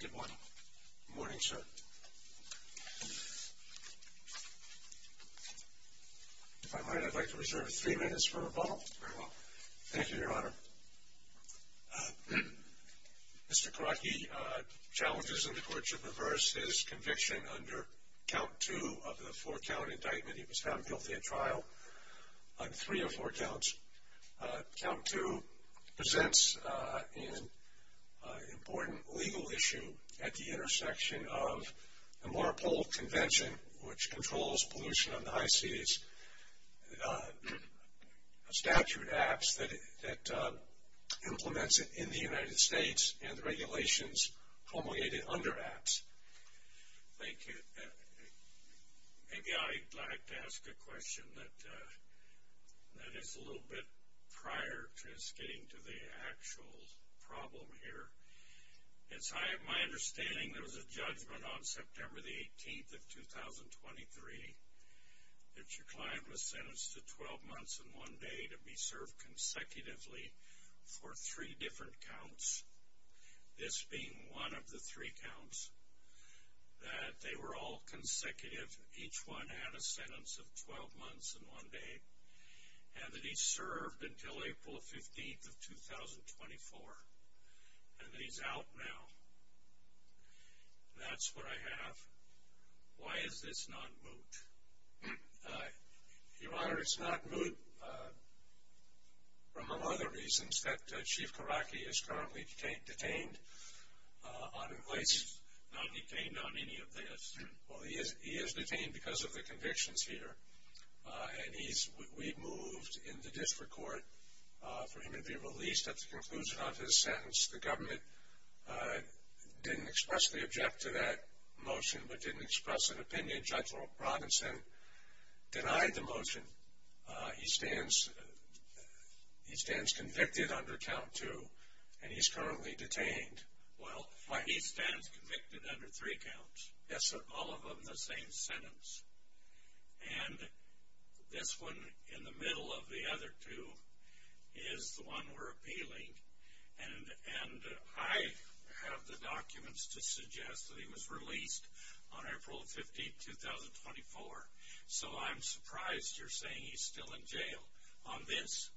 Good morning. Good morning, sir. If I might, I'd like to reserve three minutes for rebuttal. Very well. Thank you, Your Honor. Mr. Korotkiy challenges in the court to reverse his conviction under count two of the four-count indictment he was found guilty of trial on three of four counts. Count two presents an important legal issue at the intersection of the Marpole Convention, which controls pollution on the high seas, statute acts that implements it in the United States and the regulations promulgated under acts. Thank you. Maybe I'd like to ask a question that is a little bit prior to us getting to the actual problem here. It's my understanding there was a judgment on September the 18th of 2023 that your client was sentenced to 12 months and one day to be served consecutively for three different counts, this being one of the three counts, that they were all consecutive, each one had a sentence of 12 months and one day, and that he served until April 15th of 2024, and that he's out now. That's what I have. Why is this not moot? Your Honor, it's not moot from among other reasons that Chief Korotkiy is currently detained on in place. He's not detained on any of this. Well, he is detained because of the convictions here, and we moved in the district court for him to be released at the conclusion of his sentence. The government didn't expressly object to that motion, but didn't express an opinion. Judge Robinson denied the motion. He stands convicted under count two, and he's currently detained. Well, he stands convicted under three counts. Yes, sir. All of them the same sentence. And this one in the middle of the other two is the one we're appealing, and I have the documents to suggest that he was released on April 15th, 2024. So I'm surprised you're saying he's still in jail on this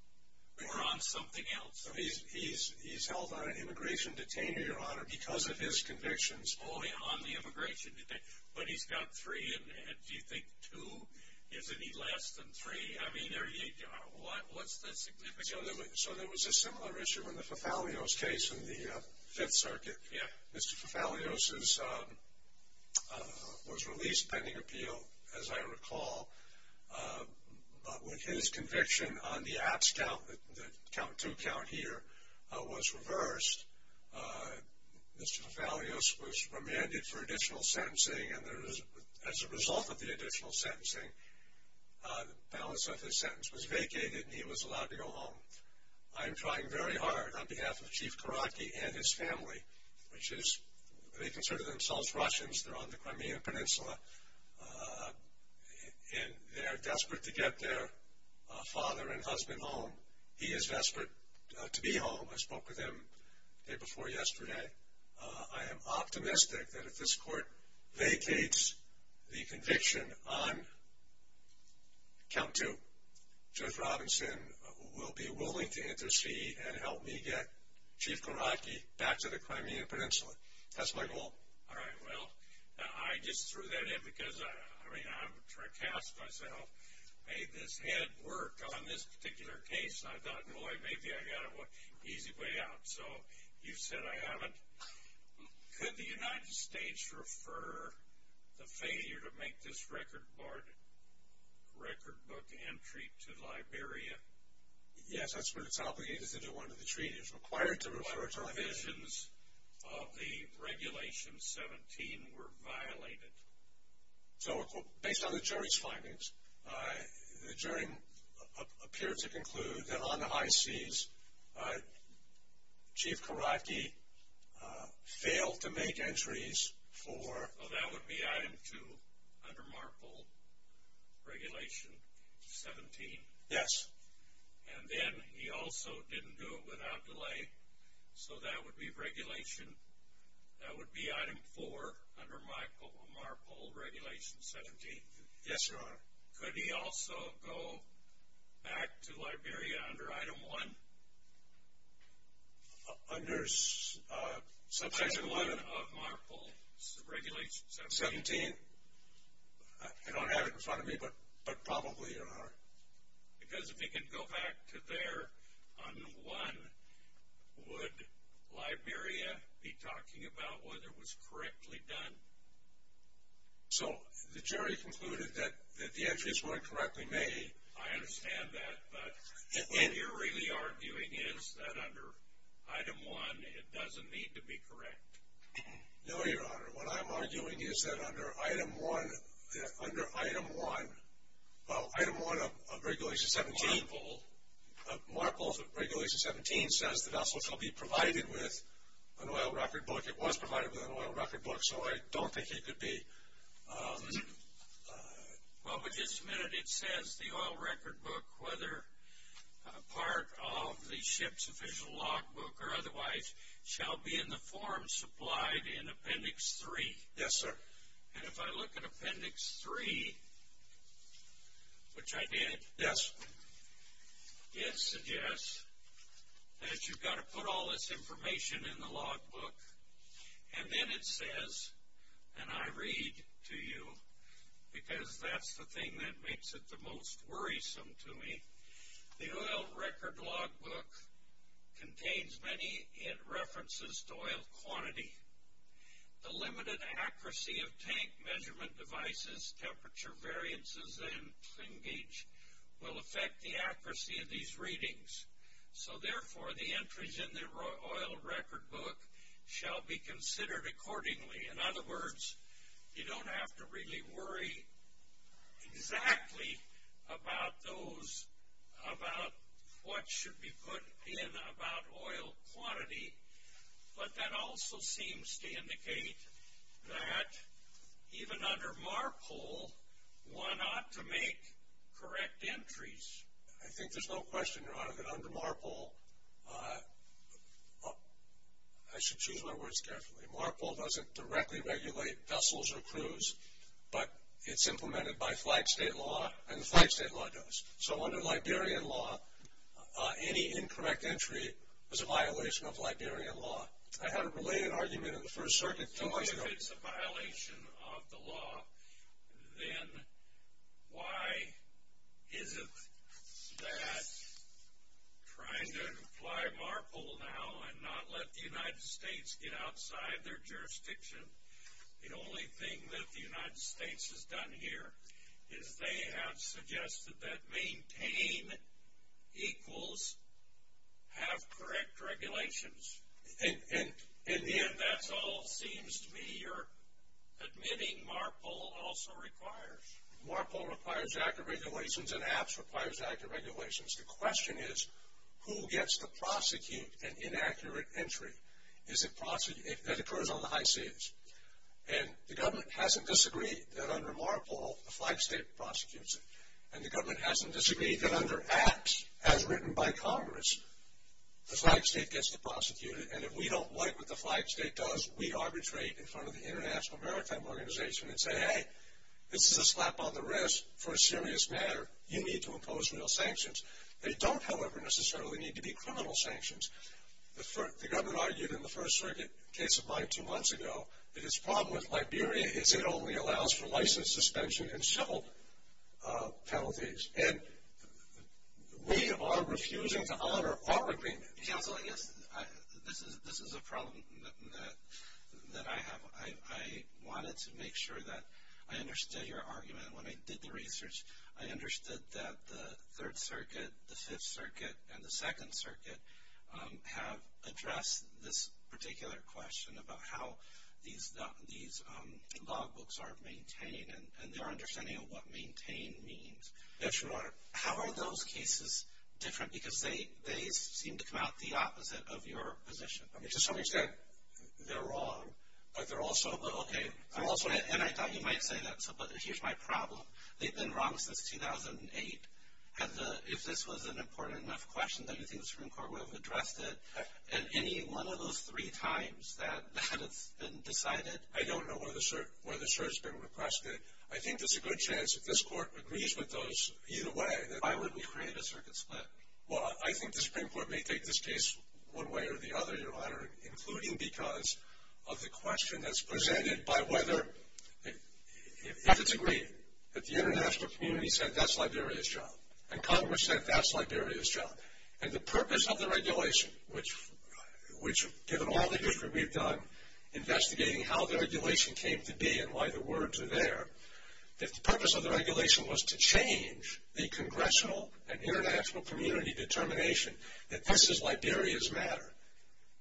or on something else. He's held on an immigration detainee, Your Honor, because of his convictions. Oh, on the immigration detainee. But he's got three, and do you think two is any less than three? I mean, what's the significance? So there was a similar issue in the Fathalios case in the Fifth Circuit. Mr. Fathalios was released pending appeal, as I recall, but with his conviction on the abs count, the count two count here, was reversed. Mr. Fathalios was remanded for additional sentencing, and as a result of the additional on behalf of Chief Korotke and his family, which is, they consider themselves Russians, they're on the Crimean Peninsula, and they're desperate to get their father and husband home. He is desperate to be home. I spoke with him the day before yesterday. I am optimistic that if this court vacates the conviction on count two, Judge Robinson will be willing to intercede and help me get Chief Korotke back to the Crimean Peninsula. That's my goal. All right, well, I just threw that in because, I mean, I'm trying to cast myself, made this head work on this particular case, and I thought, boy, maybe I got an easy way out. So you've said I haven't. Could the United States refer the failure to make this record barred record book entry to Liberia? Yes, that's what it's obligated to do under the treaty. It's required to refer it to Liberia. What provisions of the Regulation 17 were violated? So, based on the jury's findings, the jury appeared to conclude that on the high seas, Chief Korotke failed to make entries for... Well, that would be item two under MARPOL Regulation 17. Yes. And then he also didn't do it without delay, so that would be regulation, that would be item four under MARPOL Regulation 17. Yes, Your Honor. Could he also go back to Liberia under item one? Under subsection one of MARPOL Regulation 17? I don't have it in front of me, but probably, Your Honor. Because if he could go back to there on one, would Liberia be talking about whether it was correctly done? So, the jury concluded that the entries weren't correctly made. I understand that, but what you're really arguing is that under item one, it doesn't need to be correct. No, Your Honor. What I'm arguing is that under item one of Regulation 17... MARPOL. MARPOL Regulation 17 says the vessels will be provided with an oil record book. I don't think it was provided with an oil record book, so I don't think he could be... Well, but just a minute, it says the oil record book, whether part of the ship's official log book or otherwise, shall be in the form supplied in appendix three. Yes, sir. And if I look at appendix three, which I did... Yes. It suggests that you've got to put all this information in the log book, and then it says, and I read to you, because that's the thing that makes it the most worrisome to me, the oil record log book contains many references to oil quantity. The limited accuracy of tank measurement devices, temperature variances, and flingage will affect the accuracy of these readings. So therefore, the entries in the oil record book shall be considered accordingly. In other words, you don't have to really worry exactly about those, about what should be put in about oil quantity, but that also seems to indicate that even under MARPOL, one ought to make correct entries. I think there's no question, Your Honor, that under MARPOL... I should choose my words carefully. MARPOL doesn't directly regulate vessels or crews, but it's implemented by flag state law, and the flag state law does. So under Liberian law, any incorrect entry is a violation of Liberian law. I had a related argument in the First Circuit... So if it's a violation of the law, then why is it that trying to apply MARPOL now and not let the United States get outside their jurisdiction, the only thing that the United States has done here is they have suggested that maintain equals have correct regulations. In the end, that's all it seems to me you're admitting MARPOL also requires. MARPOL requires accurate regulations, and APPS requires accurate regulations. The question is, who gets to prosecute an inaccurate entry that occurs on the high seas? And the government hasn't disagreed that under MARPOL, the flag state prosecutes it. And the government hasn't disagreed that under APPS, as written by Congress, the flag state gets to prosecute it. And if we don't like what the flag state does, we arbitrate in front of the International Maritime Organization and say, hey, this is a slap on the wrist for a serious matter. You need to impose real sanctions. They don't, however, necessarily need to be criminal sanctions. The government argued in the First Circuit case of mine two months ago that its problem with Liberia is it only allows for license suspension and civil penalties. And we are refusing to honor our agreement. Counsel, I guess this is a problem that I have. I wanted to make sure that I understood your argument when I did the research. I understood that the Third Circuit, the Fifth Circuit, and the Second Circuit have addressed this particular question about how these logbooks are maintained and their understanding of what maintained means. Yes, Your Honor. How are those cases different? Because they seem to come out the opposite of your position. I mean, to some extent, they're wrong. But they're also, okay, and I thought you might say that, but here's my problem. They've been wrong since 2008. If this was an important enough question that you think the Supreme Court would have addressed it at any one of those three times that it's been decided? I don't know whether, sir, whether, sir, it's been requested. I think there's a good chance that this Court agrees with those either way. Why would we create a circuit split? Well, I think the Supreme Court may take this case one way or the other, Your Honor, including because of the question that's presented by whether, if it's agreed that the international community said that's Liberia's job and Congress said that's Liberia's job and the purpose of the regulation, which given all the history we've done investigating how the regulation came to be and why the words are there, if the purpose of the regulation was to change the congressional and international community determination that this is Liberia's matter,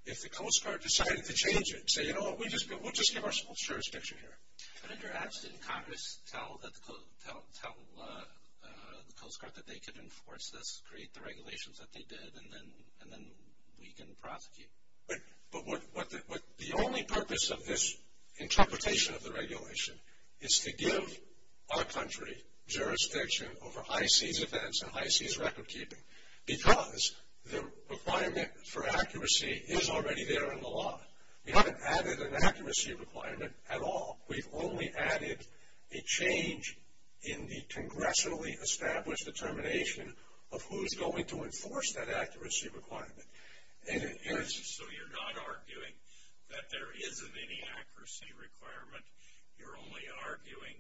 if the Coast Guard decided to change it and say, you know what, we'll just give our full jurisdiction here. But in your absence, didn't Congress tell the Coast Guard that they could enforce this, create the regulations that they did, and then we can prosecute? But the only purpose of this interpretation of the regulation is to give our country jurisdiction over high seas events and high seas record keeping because the requirement for accuracy is already there in the law. We haven't added an accuracy requirement at all. We've only added a change in the congressionally established determination of who's going to enforce that accuracy requirement. So you're not arguing that there isn't any accuracy requirement. You're only arguing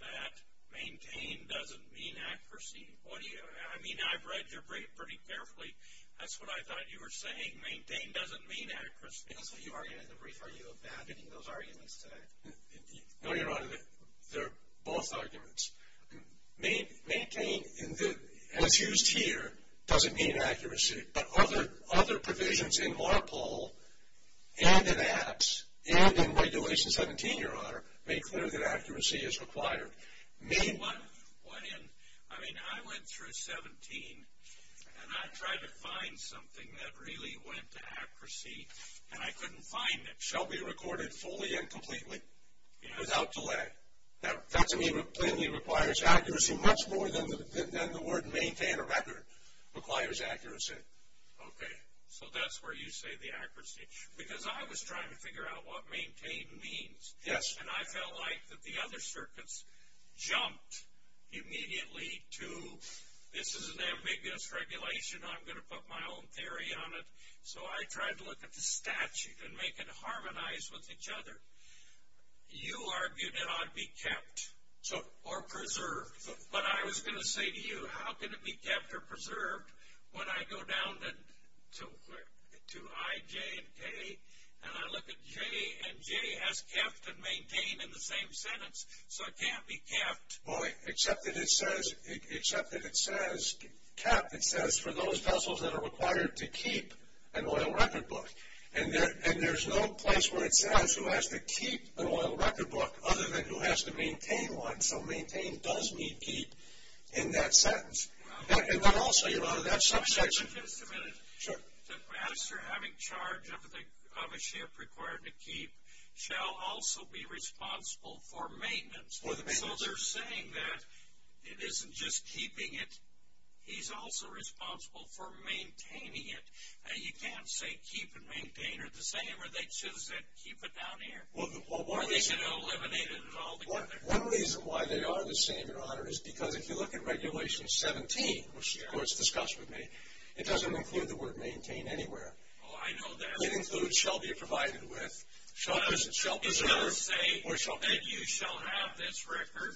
that maintain doesn't mean accuracy. I mean, I've read your brief pretty carefully. That's what I thought you were saying. Maintain doesn't mean accuracy. That's what you argued in the brief. Are you abandoning those arguments today? No, Your Honor. They're both arguments. Maintain, as used here, doesn't mean accuracy. But other provisions in MARPOL and in APPS and in Regulation 17, Your Honor, make clear that accuracy is required. I mean, I went through 17 and I tried to find something that really went to accuracy and I couldn't find it. It shall be recorded fully and completely without delay. That to me clearly requires accuracy much more than the word maintain a record requires accuracy. Okay. So that's where you say the accuracy. Because I was trying to figure out what maintain means. Yes. And I felt like that the other circuits jumped immediately to this is an ambiguous regulation. I'm going to put my own theory on it. So I tried to look at the statute and make it harmonize with each other. You argued it ought to be kept or preserved. But I was going to say to you, how can it be kept or preserved when I go down to I, J, and K and I look at J and J has kept and maintained in the same sentence. So it can't be kept. Boy, except that it says kept. It says for those vessels that are required to keep an oil record book. And there's no place where it says who has to keep an oil record book other than who has to maintain one. So maintain does mean keep in that sentence. And then also, Your Honor, that subsection. Just a minute. Perhaps they're having charge of a ship required to keep shall also be responsible for maintenance. So they're saying that it isn't just keeping it. He's also responsible for maintaining it. You can't say keep and maintain are the same or they just said keep it down here. Or they could eliminate it altogether. One reason why they are the same, Your Honor, is because if you look at Regulation 17, which the Court's discussed with me, it doesn't include the word maintain anywhere. Oh, I know that. It includes shall be provided with, shall preserve, or shall maintain. It does say that you shall have this record.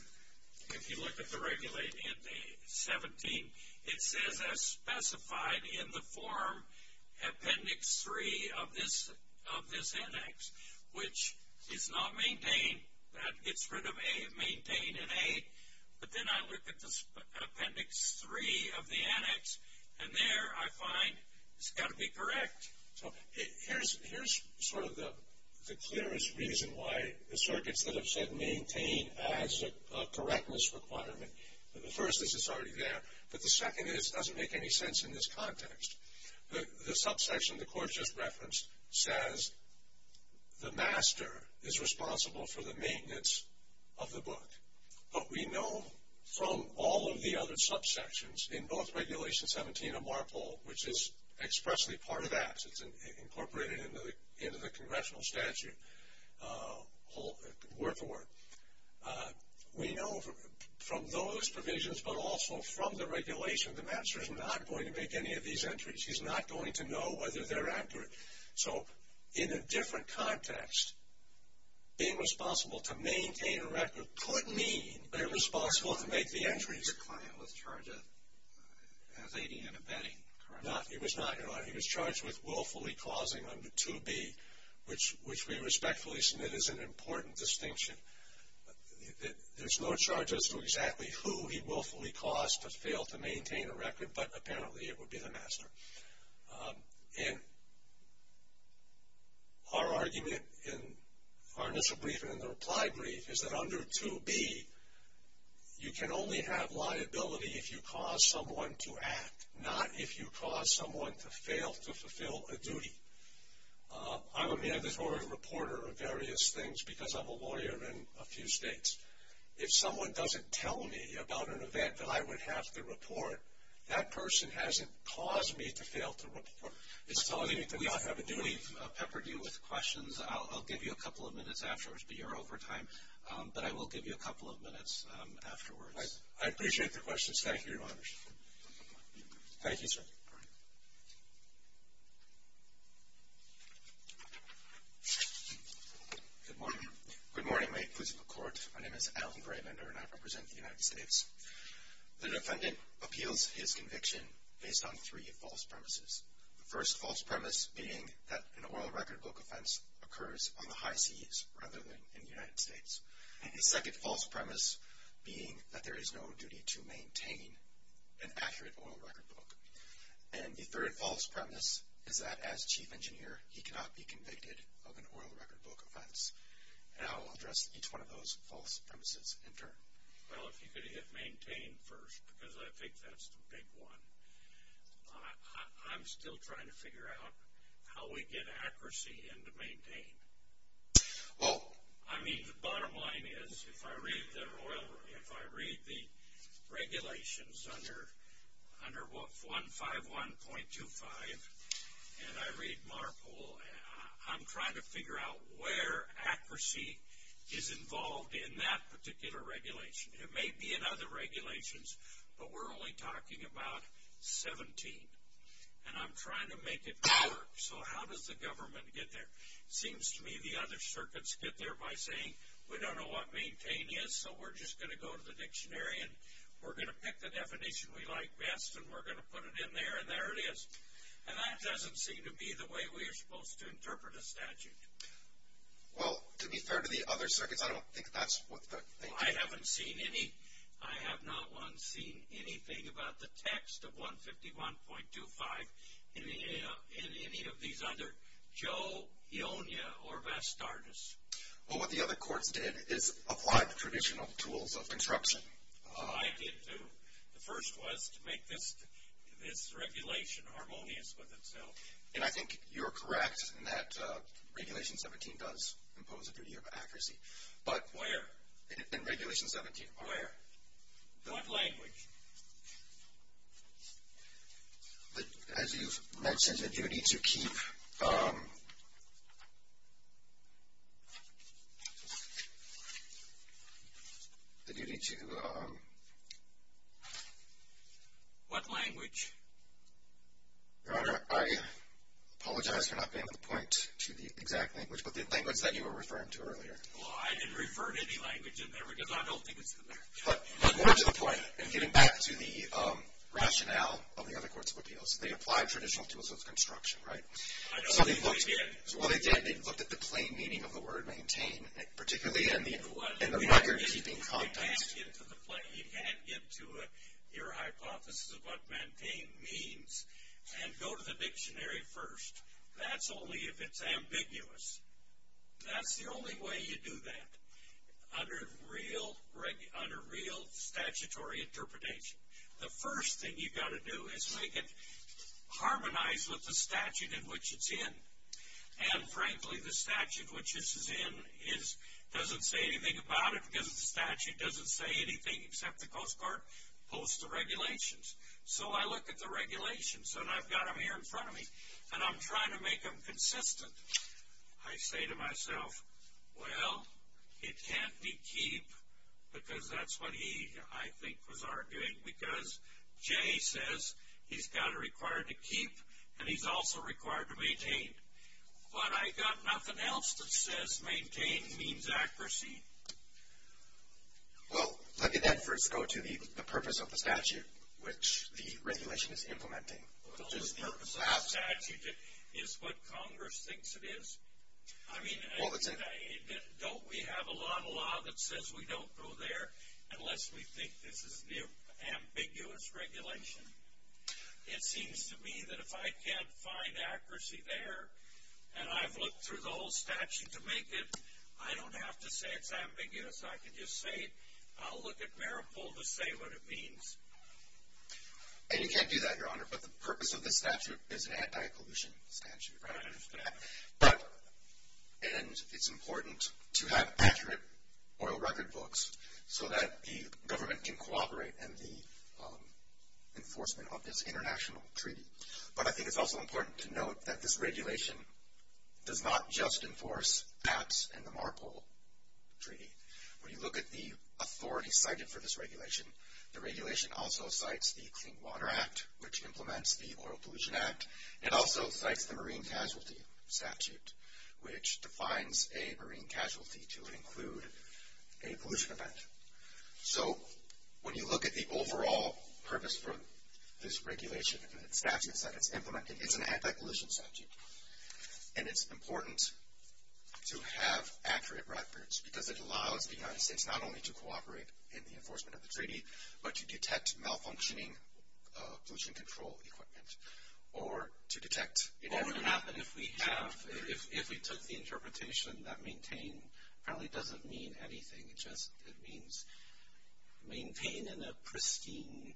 If you look at the Regulation 17, it says as specified in the form Appendix 3 of this index, which is not maintain. That gets rid of maintain and A. But then I look at Appendix 3 of the annex and there I find it's got to be correct. So here's sort of the clearest reason why the circuits that have said maintain adds a correctness requirement. The first is it's already there. But the second is it doesn't make any sense in this context. The subsection the Court just referenced says the master is responsible for the maintenance of the book. But we know from all of the other subsections in both Regulation 17 and MARPOL, which is expressly part of that. It's incorporated into the congressional statute word for word. We know from those provisions but also from the regulation the master is not going to make any of these entries. He's not going to know whether they're accurate. So in a different context being responsible to maintain a record could mean that the client was charged as aiding and abetting. No, he was not. He was charged with willfully causing under 2B which we respectfully submit is an important distinction. There's no charge as to exactly who he willfully caused to fail to maintain a record but apparently it would be the master. And our argument in our initial briefing and in the reply brief is that under 2B you can only have liability if you cause someone to act not if you cause someone to fail to fulfill a duty. I'm a mandatory reporter of various things because I'm a lawyer in a few states. If someone doesn't tell me about an event that I would have to report that person hasn't caused me to fail to report. It's telling me to not have a duty. I've peppered you with questions. I'll give you a couple of minutes afterwards but you're over time. But I will give you a couple of minutes afterwards. I appreciate the questions. Thank you, Your Honor. Thank you, sir. Good morning. My name is Alan Graymender and I represent the United States. The defendant appeals his conviction based on three false premises. The first false premise being that an oil record book offense occurs on the high seas rather than in the United States. The second false premise being that there is no duty to maintain an accurate oil record book. And the third false premise is that as Chief Engineer he cannot be convicted of an oil record book offense. And I will address each one of those false premises in turn. Well, if you could hit maintain first because I think that's the big one. I'm still trying to figure out how we get accuracy into maintain. Oh. I mean the bottom line is if I read the regulations under 151.25 and I read MARPOL I'm trying to figure out where accuracy is involved in that particular regulation. It may be in other regulations but we're only talking about 17. And I'm trying to make it work. So how does the government get there? Seems to me the other circuits get there by saying we don't know what maintain is so we're just going to go to the dictionary and we're going to pick the definition we like best and we're going to put it in there and there it is. And that doesn't seem to be the way we are supposed to interpret a statute. Well, to be fair to the other circuits I don't think that's what they do. I haven't seen any I have not once seen anything about the text of 151.25 in any of these other Joe, Ionia or Vastardus. Well what the other courts did is apply the traditional tools of construction. Oh I did too. The first was to make this this regulation harmonious with itself. And I think you're correct in that regulation 17 does impose a duty of accuracy. Where? In regulation 17. Where? What language? As you've mentioned the duty to keep the duty to What language? Your Honor I apologize for not being able to point to the exact language but the language that you were referring to earlier. Well I didn't refer to any language in there because I don't think it's in there. But getting back to the rationale of the other courts of appeals they applied traditional tools of construction right? I don't think they did. Well they did. They looked at the plain meaning of the word maintain particularly in the record keeping context. You can't get to your hypothesis of what maintain means and go to the dictionary first. That's only if it's ambiguous. That's the only way you do that. Under real statutory interpretation. The first thing you've got to do is make it harmonized with the statute in which it's in. And frankly the statute which this is in doesn't say anything about it because the statute doesn't say anything except the Coast Guard posts the regulations. So I look at the regulations and I've got them here in front of me and I'm trying to make them consistent. I say to myself well it can't be keep because that's what he I think was arguing because Jay says he's got it required to keep and he's also required to maintain. But I've got nothing else that says maintain means accuracy. Well let me then first go to the purpose of the statute which the regulation is implementing. The purpose of the statute is what Congress thinks it is. Don't we have a lot of law that says we don't go there unless we think this is the ambiguous regulation? It seems to me that if I can't find accuracy there and I've looked through the whole statute to make it I don't have to say it's ambiguous. I can just say it. I'll look at and you can't do that Your Honor but the purpose of this statute is an anti-pollution statute. But and it's important to have accurate oil record books so that the government can cooperate and the enforcement of this international treaty. But I think it's also important to note that this regulation does not just enforce Apps and the Marpole Treaty. When you look at the authority cited for this it cites the Clean Water Act which implements the Oil Pollution Act. It also cites the Marine Casualty Statute which defines a marine casualty to include a pollution event. So when you look at the overall purpose for this regulation and the statutes that it's implementing, it's an anti-pollution statute. And it's important to have accurate records because it allows the United States not only to cooperate in the enforcement of the treaty but to detect malfunctioning pollution control equipment or to detect What would happen if we have if we took the interpretation that maintain apparently doesn't mean anything, it just means maintain in a pristine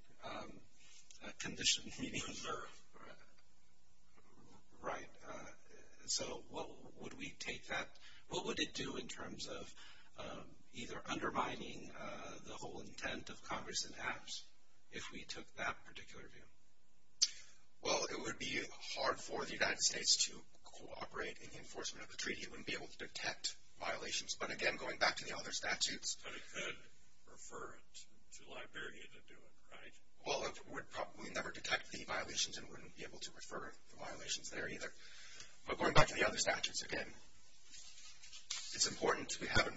condition. Right. So what would we take that, what would it do in terms of either undermining the whole intent of Congress and HAPS if we took that particular view? Well it would be hard for the United States to cooperate in the enforcement of the treaty. It wouldn't be able to detect violations. But again going back to the other statutes. But it could refer it to Liberia to do it, right? Well it would probably never detect the violations and wouldn't be able to refer the violations there either. But going back to the other statutes again it's important to have an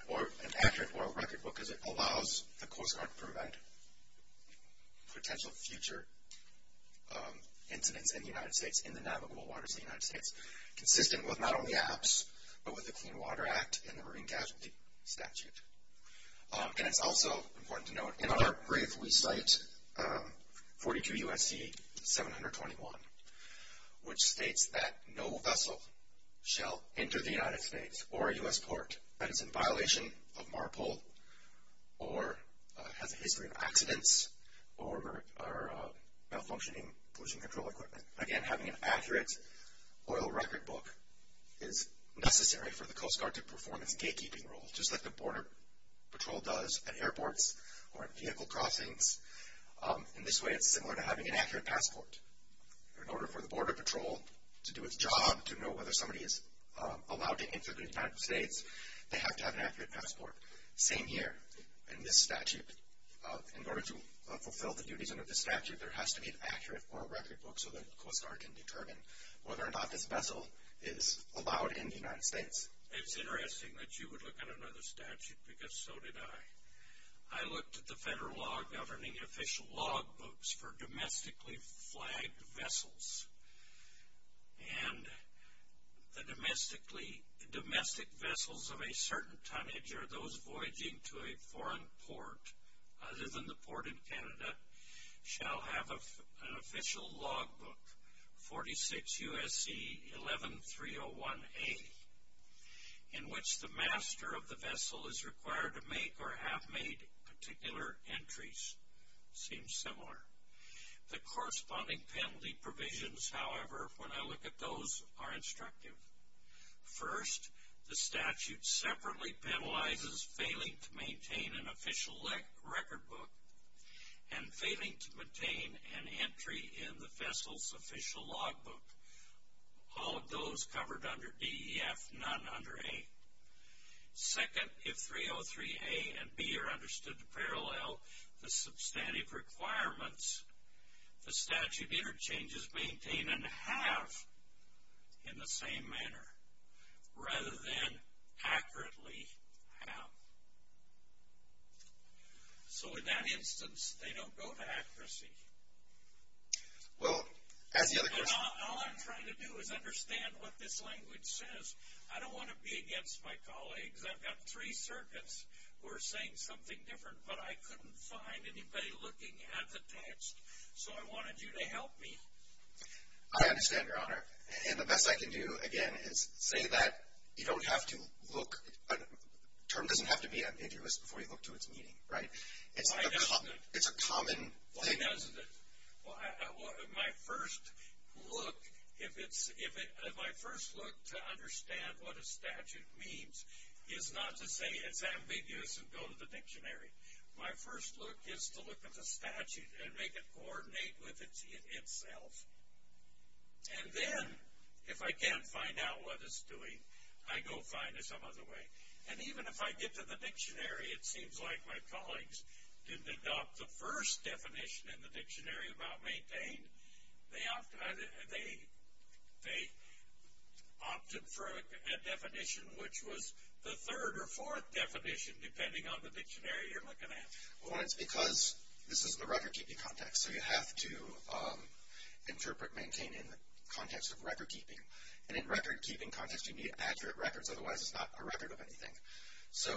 accurate oil record because it allows the Coast Guard to prevent potential future incidents in the United States in the navigable waters of the United States. Consistent with not only HAPS but with the Clean Water Act and the Marine Casualty Statute. And it's also important to note in our brief we cite 42 U.S.C. 721 which states that no vessel shall enter the United States with a passport that is in violation of MARPOL or has a history of accidents or malfunctioning pollution control equipment. Again having an accurate oil record book is necessary for the Coast Guard to perform its gatekeeping role just like the Border Patrol does at airports or at vehicle crossings. In this way it's similar to having an accurate passport. In order for the Border Patrol to do its job to know whether somebody is allowed to enter the United States, they have to have an accurate passport. Same here in this statute. In order to fulfill the duties under this statute there has to be an accurate oil record book so the Coast Guard can determine whether or not this vessel is allowed in the United States. It's interesting that you would look at another statute because so did I. I looked at the federal law governing official log books for domestically flagged vessels and the domestically domestic vessels of a certain tonnage or those voyaging to a foreign port other than the port in Canada shall have an official log book 46 USC 11301A in which the master of the vessel is required to make or have made particular entries. Seems similar. The corresponding penalty provisions, however, when I look at those are instructive. First, the statute separately penalizes failing to maintain an official record book and failing to maintain an entry in the vessel's official log book. All of those covered under DEF, none under A. Second, if 303A and B are understood to parallel, the substantive requirements the statute interchanges maintain and have in the same manner rather than accurately have. So in that instance they don't go to accuracy. Well, all I'm trying to do is understand what this language says. I don't want to be against my colleagues. I've got three circuits who are saying something different, but I couldn't find anybody looking at the text, so I wanted you to help me. I understand, Your Honor, and the best I can do again is say that you don't have to look the term doesn't have to be ambiguous before you look to its meaning, right? It's a common thing. Why doesn't it? My first look, if my first look to understand what a statute means is not to say it's ambiguous and go to the dictionary. My first look is to look at the statute and make it coordinate with itself. And then, if I can't find out what it's doing, I go find it some other way. And even if I get to the dictionary, it seems like my colleagues didn't adopt the first definition in the dictionary about maintain. They opted for a definition which was the third or fourth definition, depending on the dictionary you're looking at. Well, it's because this is the record keeping context, so you have to interpret maintain in the context of record keeping. And in record keeping context, you need accurate records, otherwise it's not a record of anything. So,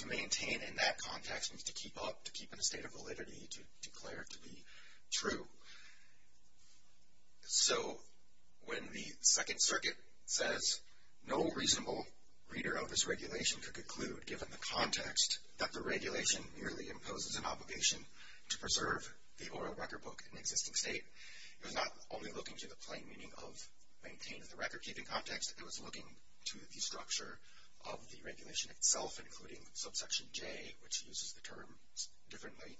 to maintain in that context means to keep up, to keep in a state of validity, to declare to be true. So, when the Second Circuit says no reasonable reader of this regulation could conclude, given the context, that the regulation merely imposes an obligation to preserve the oral record book in the existing state, it was not only looking to the plain meaning of maintain in the record keeping context, it was looking to the structure of the regulation itself, including subsection J, which uses the term differently,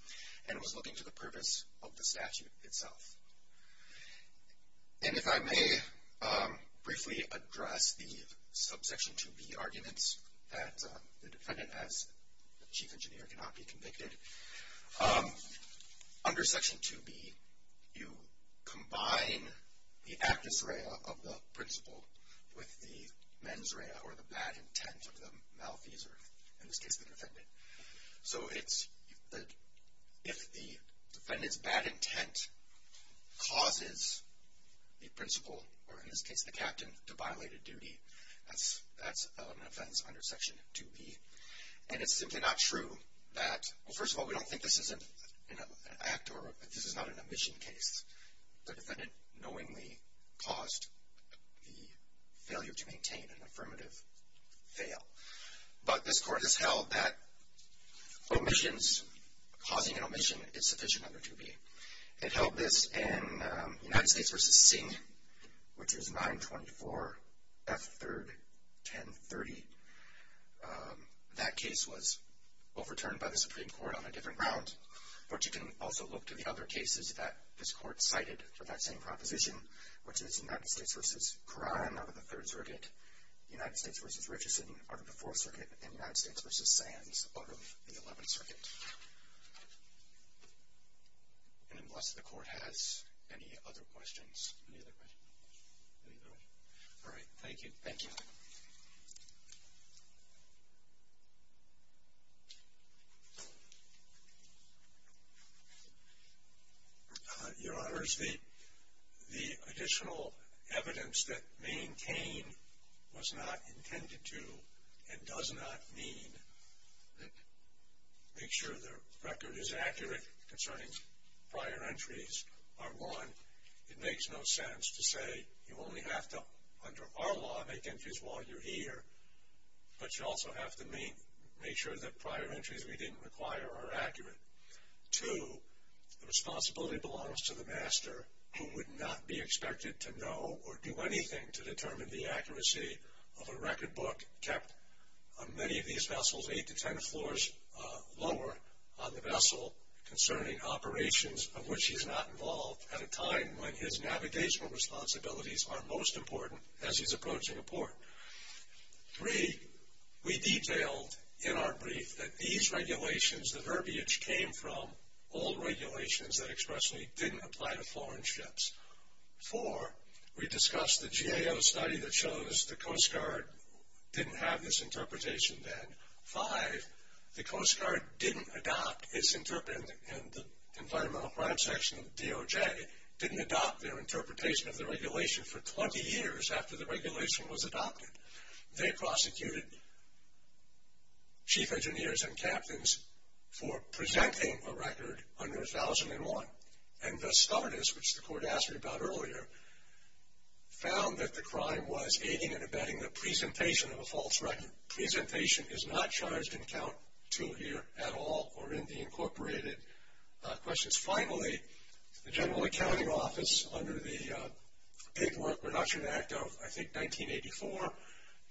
and it was looking to the purpose of the statute itself. And if I may briefly address the subsection 2B arguments that the defendant as the chief engineer cannot be convicted, under section 2B you combine the actus rea of the principle with the mens rea, or the bad intent of the malfeasor, in this case the defendant. So, it's if the defendant's bad intent causes the principal, or in this case the captain, to violate a duty, that's an offense under section 2B. And it's simply not true that well, first of all, we don't think this is an act or this is not an omission case. The defendant knowingly caused the failure to maintain an affirmative fail. But this court has held that omissions, causing an omission, is sufficient under 2B. It held this in United States v. Singh, which is 924 F. 3rd 1030. That case was overturned by the Supreme Court on a different ground. But you can also look to the other cases that this court cited for that same proposition, which is United States v. Curran out of the 3rd Circuit, United States v. Richardson out of the 4th Circuit, and United States v. Sands out of the 11th Circuit. And unless the court has any other questions. All right. Thank you. Your Honors, the additional evidence that maintain was not intended to and does not mean make sure the record is accurate concerning prior entries are 1. It makes no sense to say you only have to, under our law, make entries while you're here. But you also have to make sure that prior entries we didn't require are accurate. 2. The responsibility belongs to the master who would not be expected to know or do anything to determine the accuracy of a record book kept on many of these vessels, 8 to 10 floors lower on the vessel concerning operations of which he's not involved at a time when his navigational responsibilities are most important as he's approaching a port. 3. We detailed in our brief that these regulations, the verbiage came from all regulations that expressly didn't apply to foreign ships. 4. We discussed the GAO study that shows the Coast Guard didn't have this interpretation then. 5. The Coast Guard didn't adopt its interpretation, and the Environmental Crime Section of the DOJ didn't adopt their interpretation of the regulation for 20 years after the regulation was adopted. They prosecuted chief engineers and captains for presenting a record under 1001 and thus started, which the court asked me about earlier, found that the crime was aiding and abetting the presentation of a false record. Presentation is not charged in count 2 here at all, or in the incorporated questions. Finally, the General Accounting Office, under the Paperwork Reduction Act of, I think, 1984,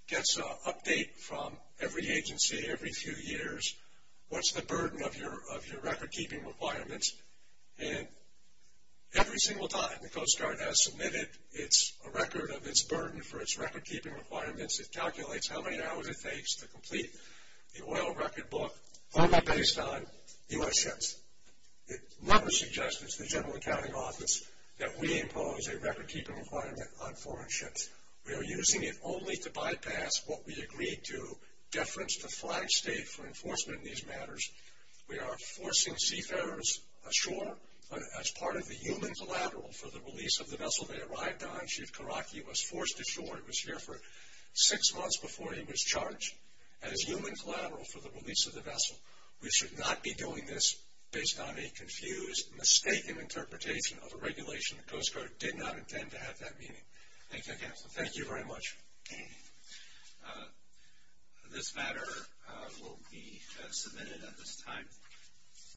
gets an update from every agency every few years, what's the burden of your record keeping requirements, and every single time the Coast Guard has submitted a record of its burden for its record keeping requirements, it calculates how many hours it takes to complete the oil record book only based on U.S. ships. It never suggests to the General Accounting Office that we impose a record keeping requirement on foreign ships. We are using it only to bypass what we agreed to, deference to flag state for enforcement in these matters. We are forcing seafarers ashore as part of the human collateral for the release of the vessel they arrived on. Chief Karaki was forced ashore. He was here for six months before he was charged as human collateral for the release of the vessel. We should not be doing this based on a confused, mistaken interpretation of a regulation the Coast Guard did not intend to have that meaning. Thank you again. Thank you very much. This matter will be submitted at this time.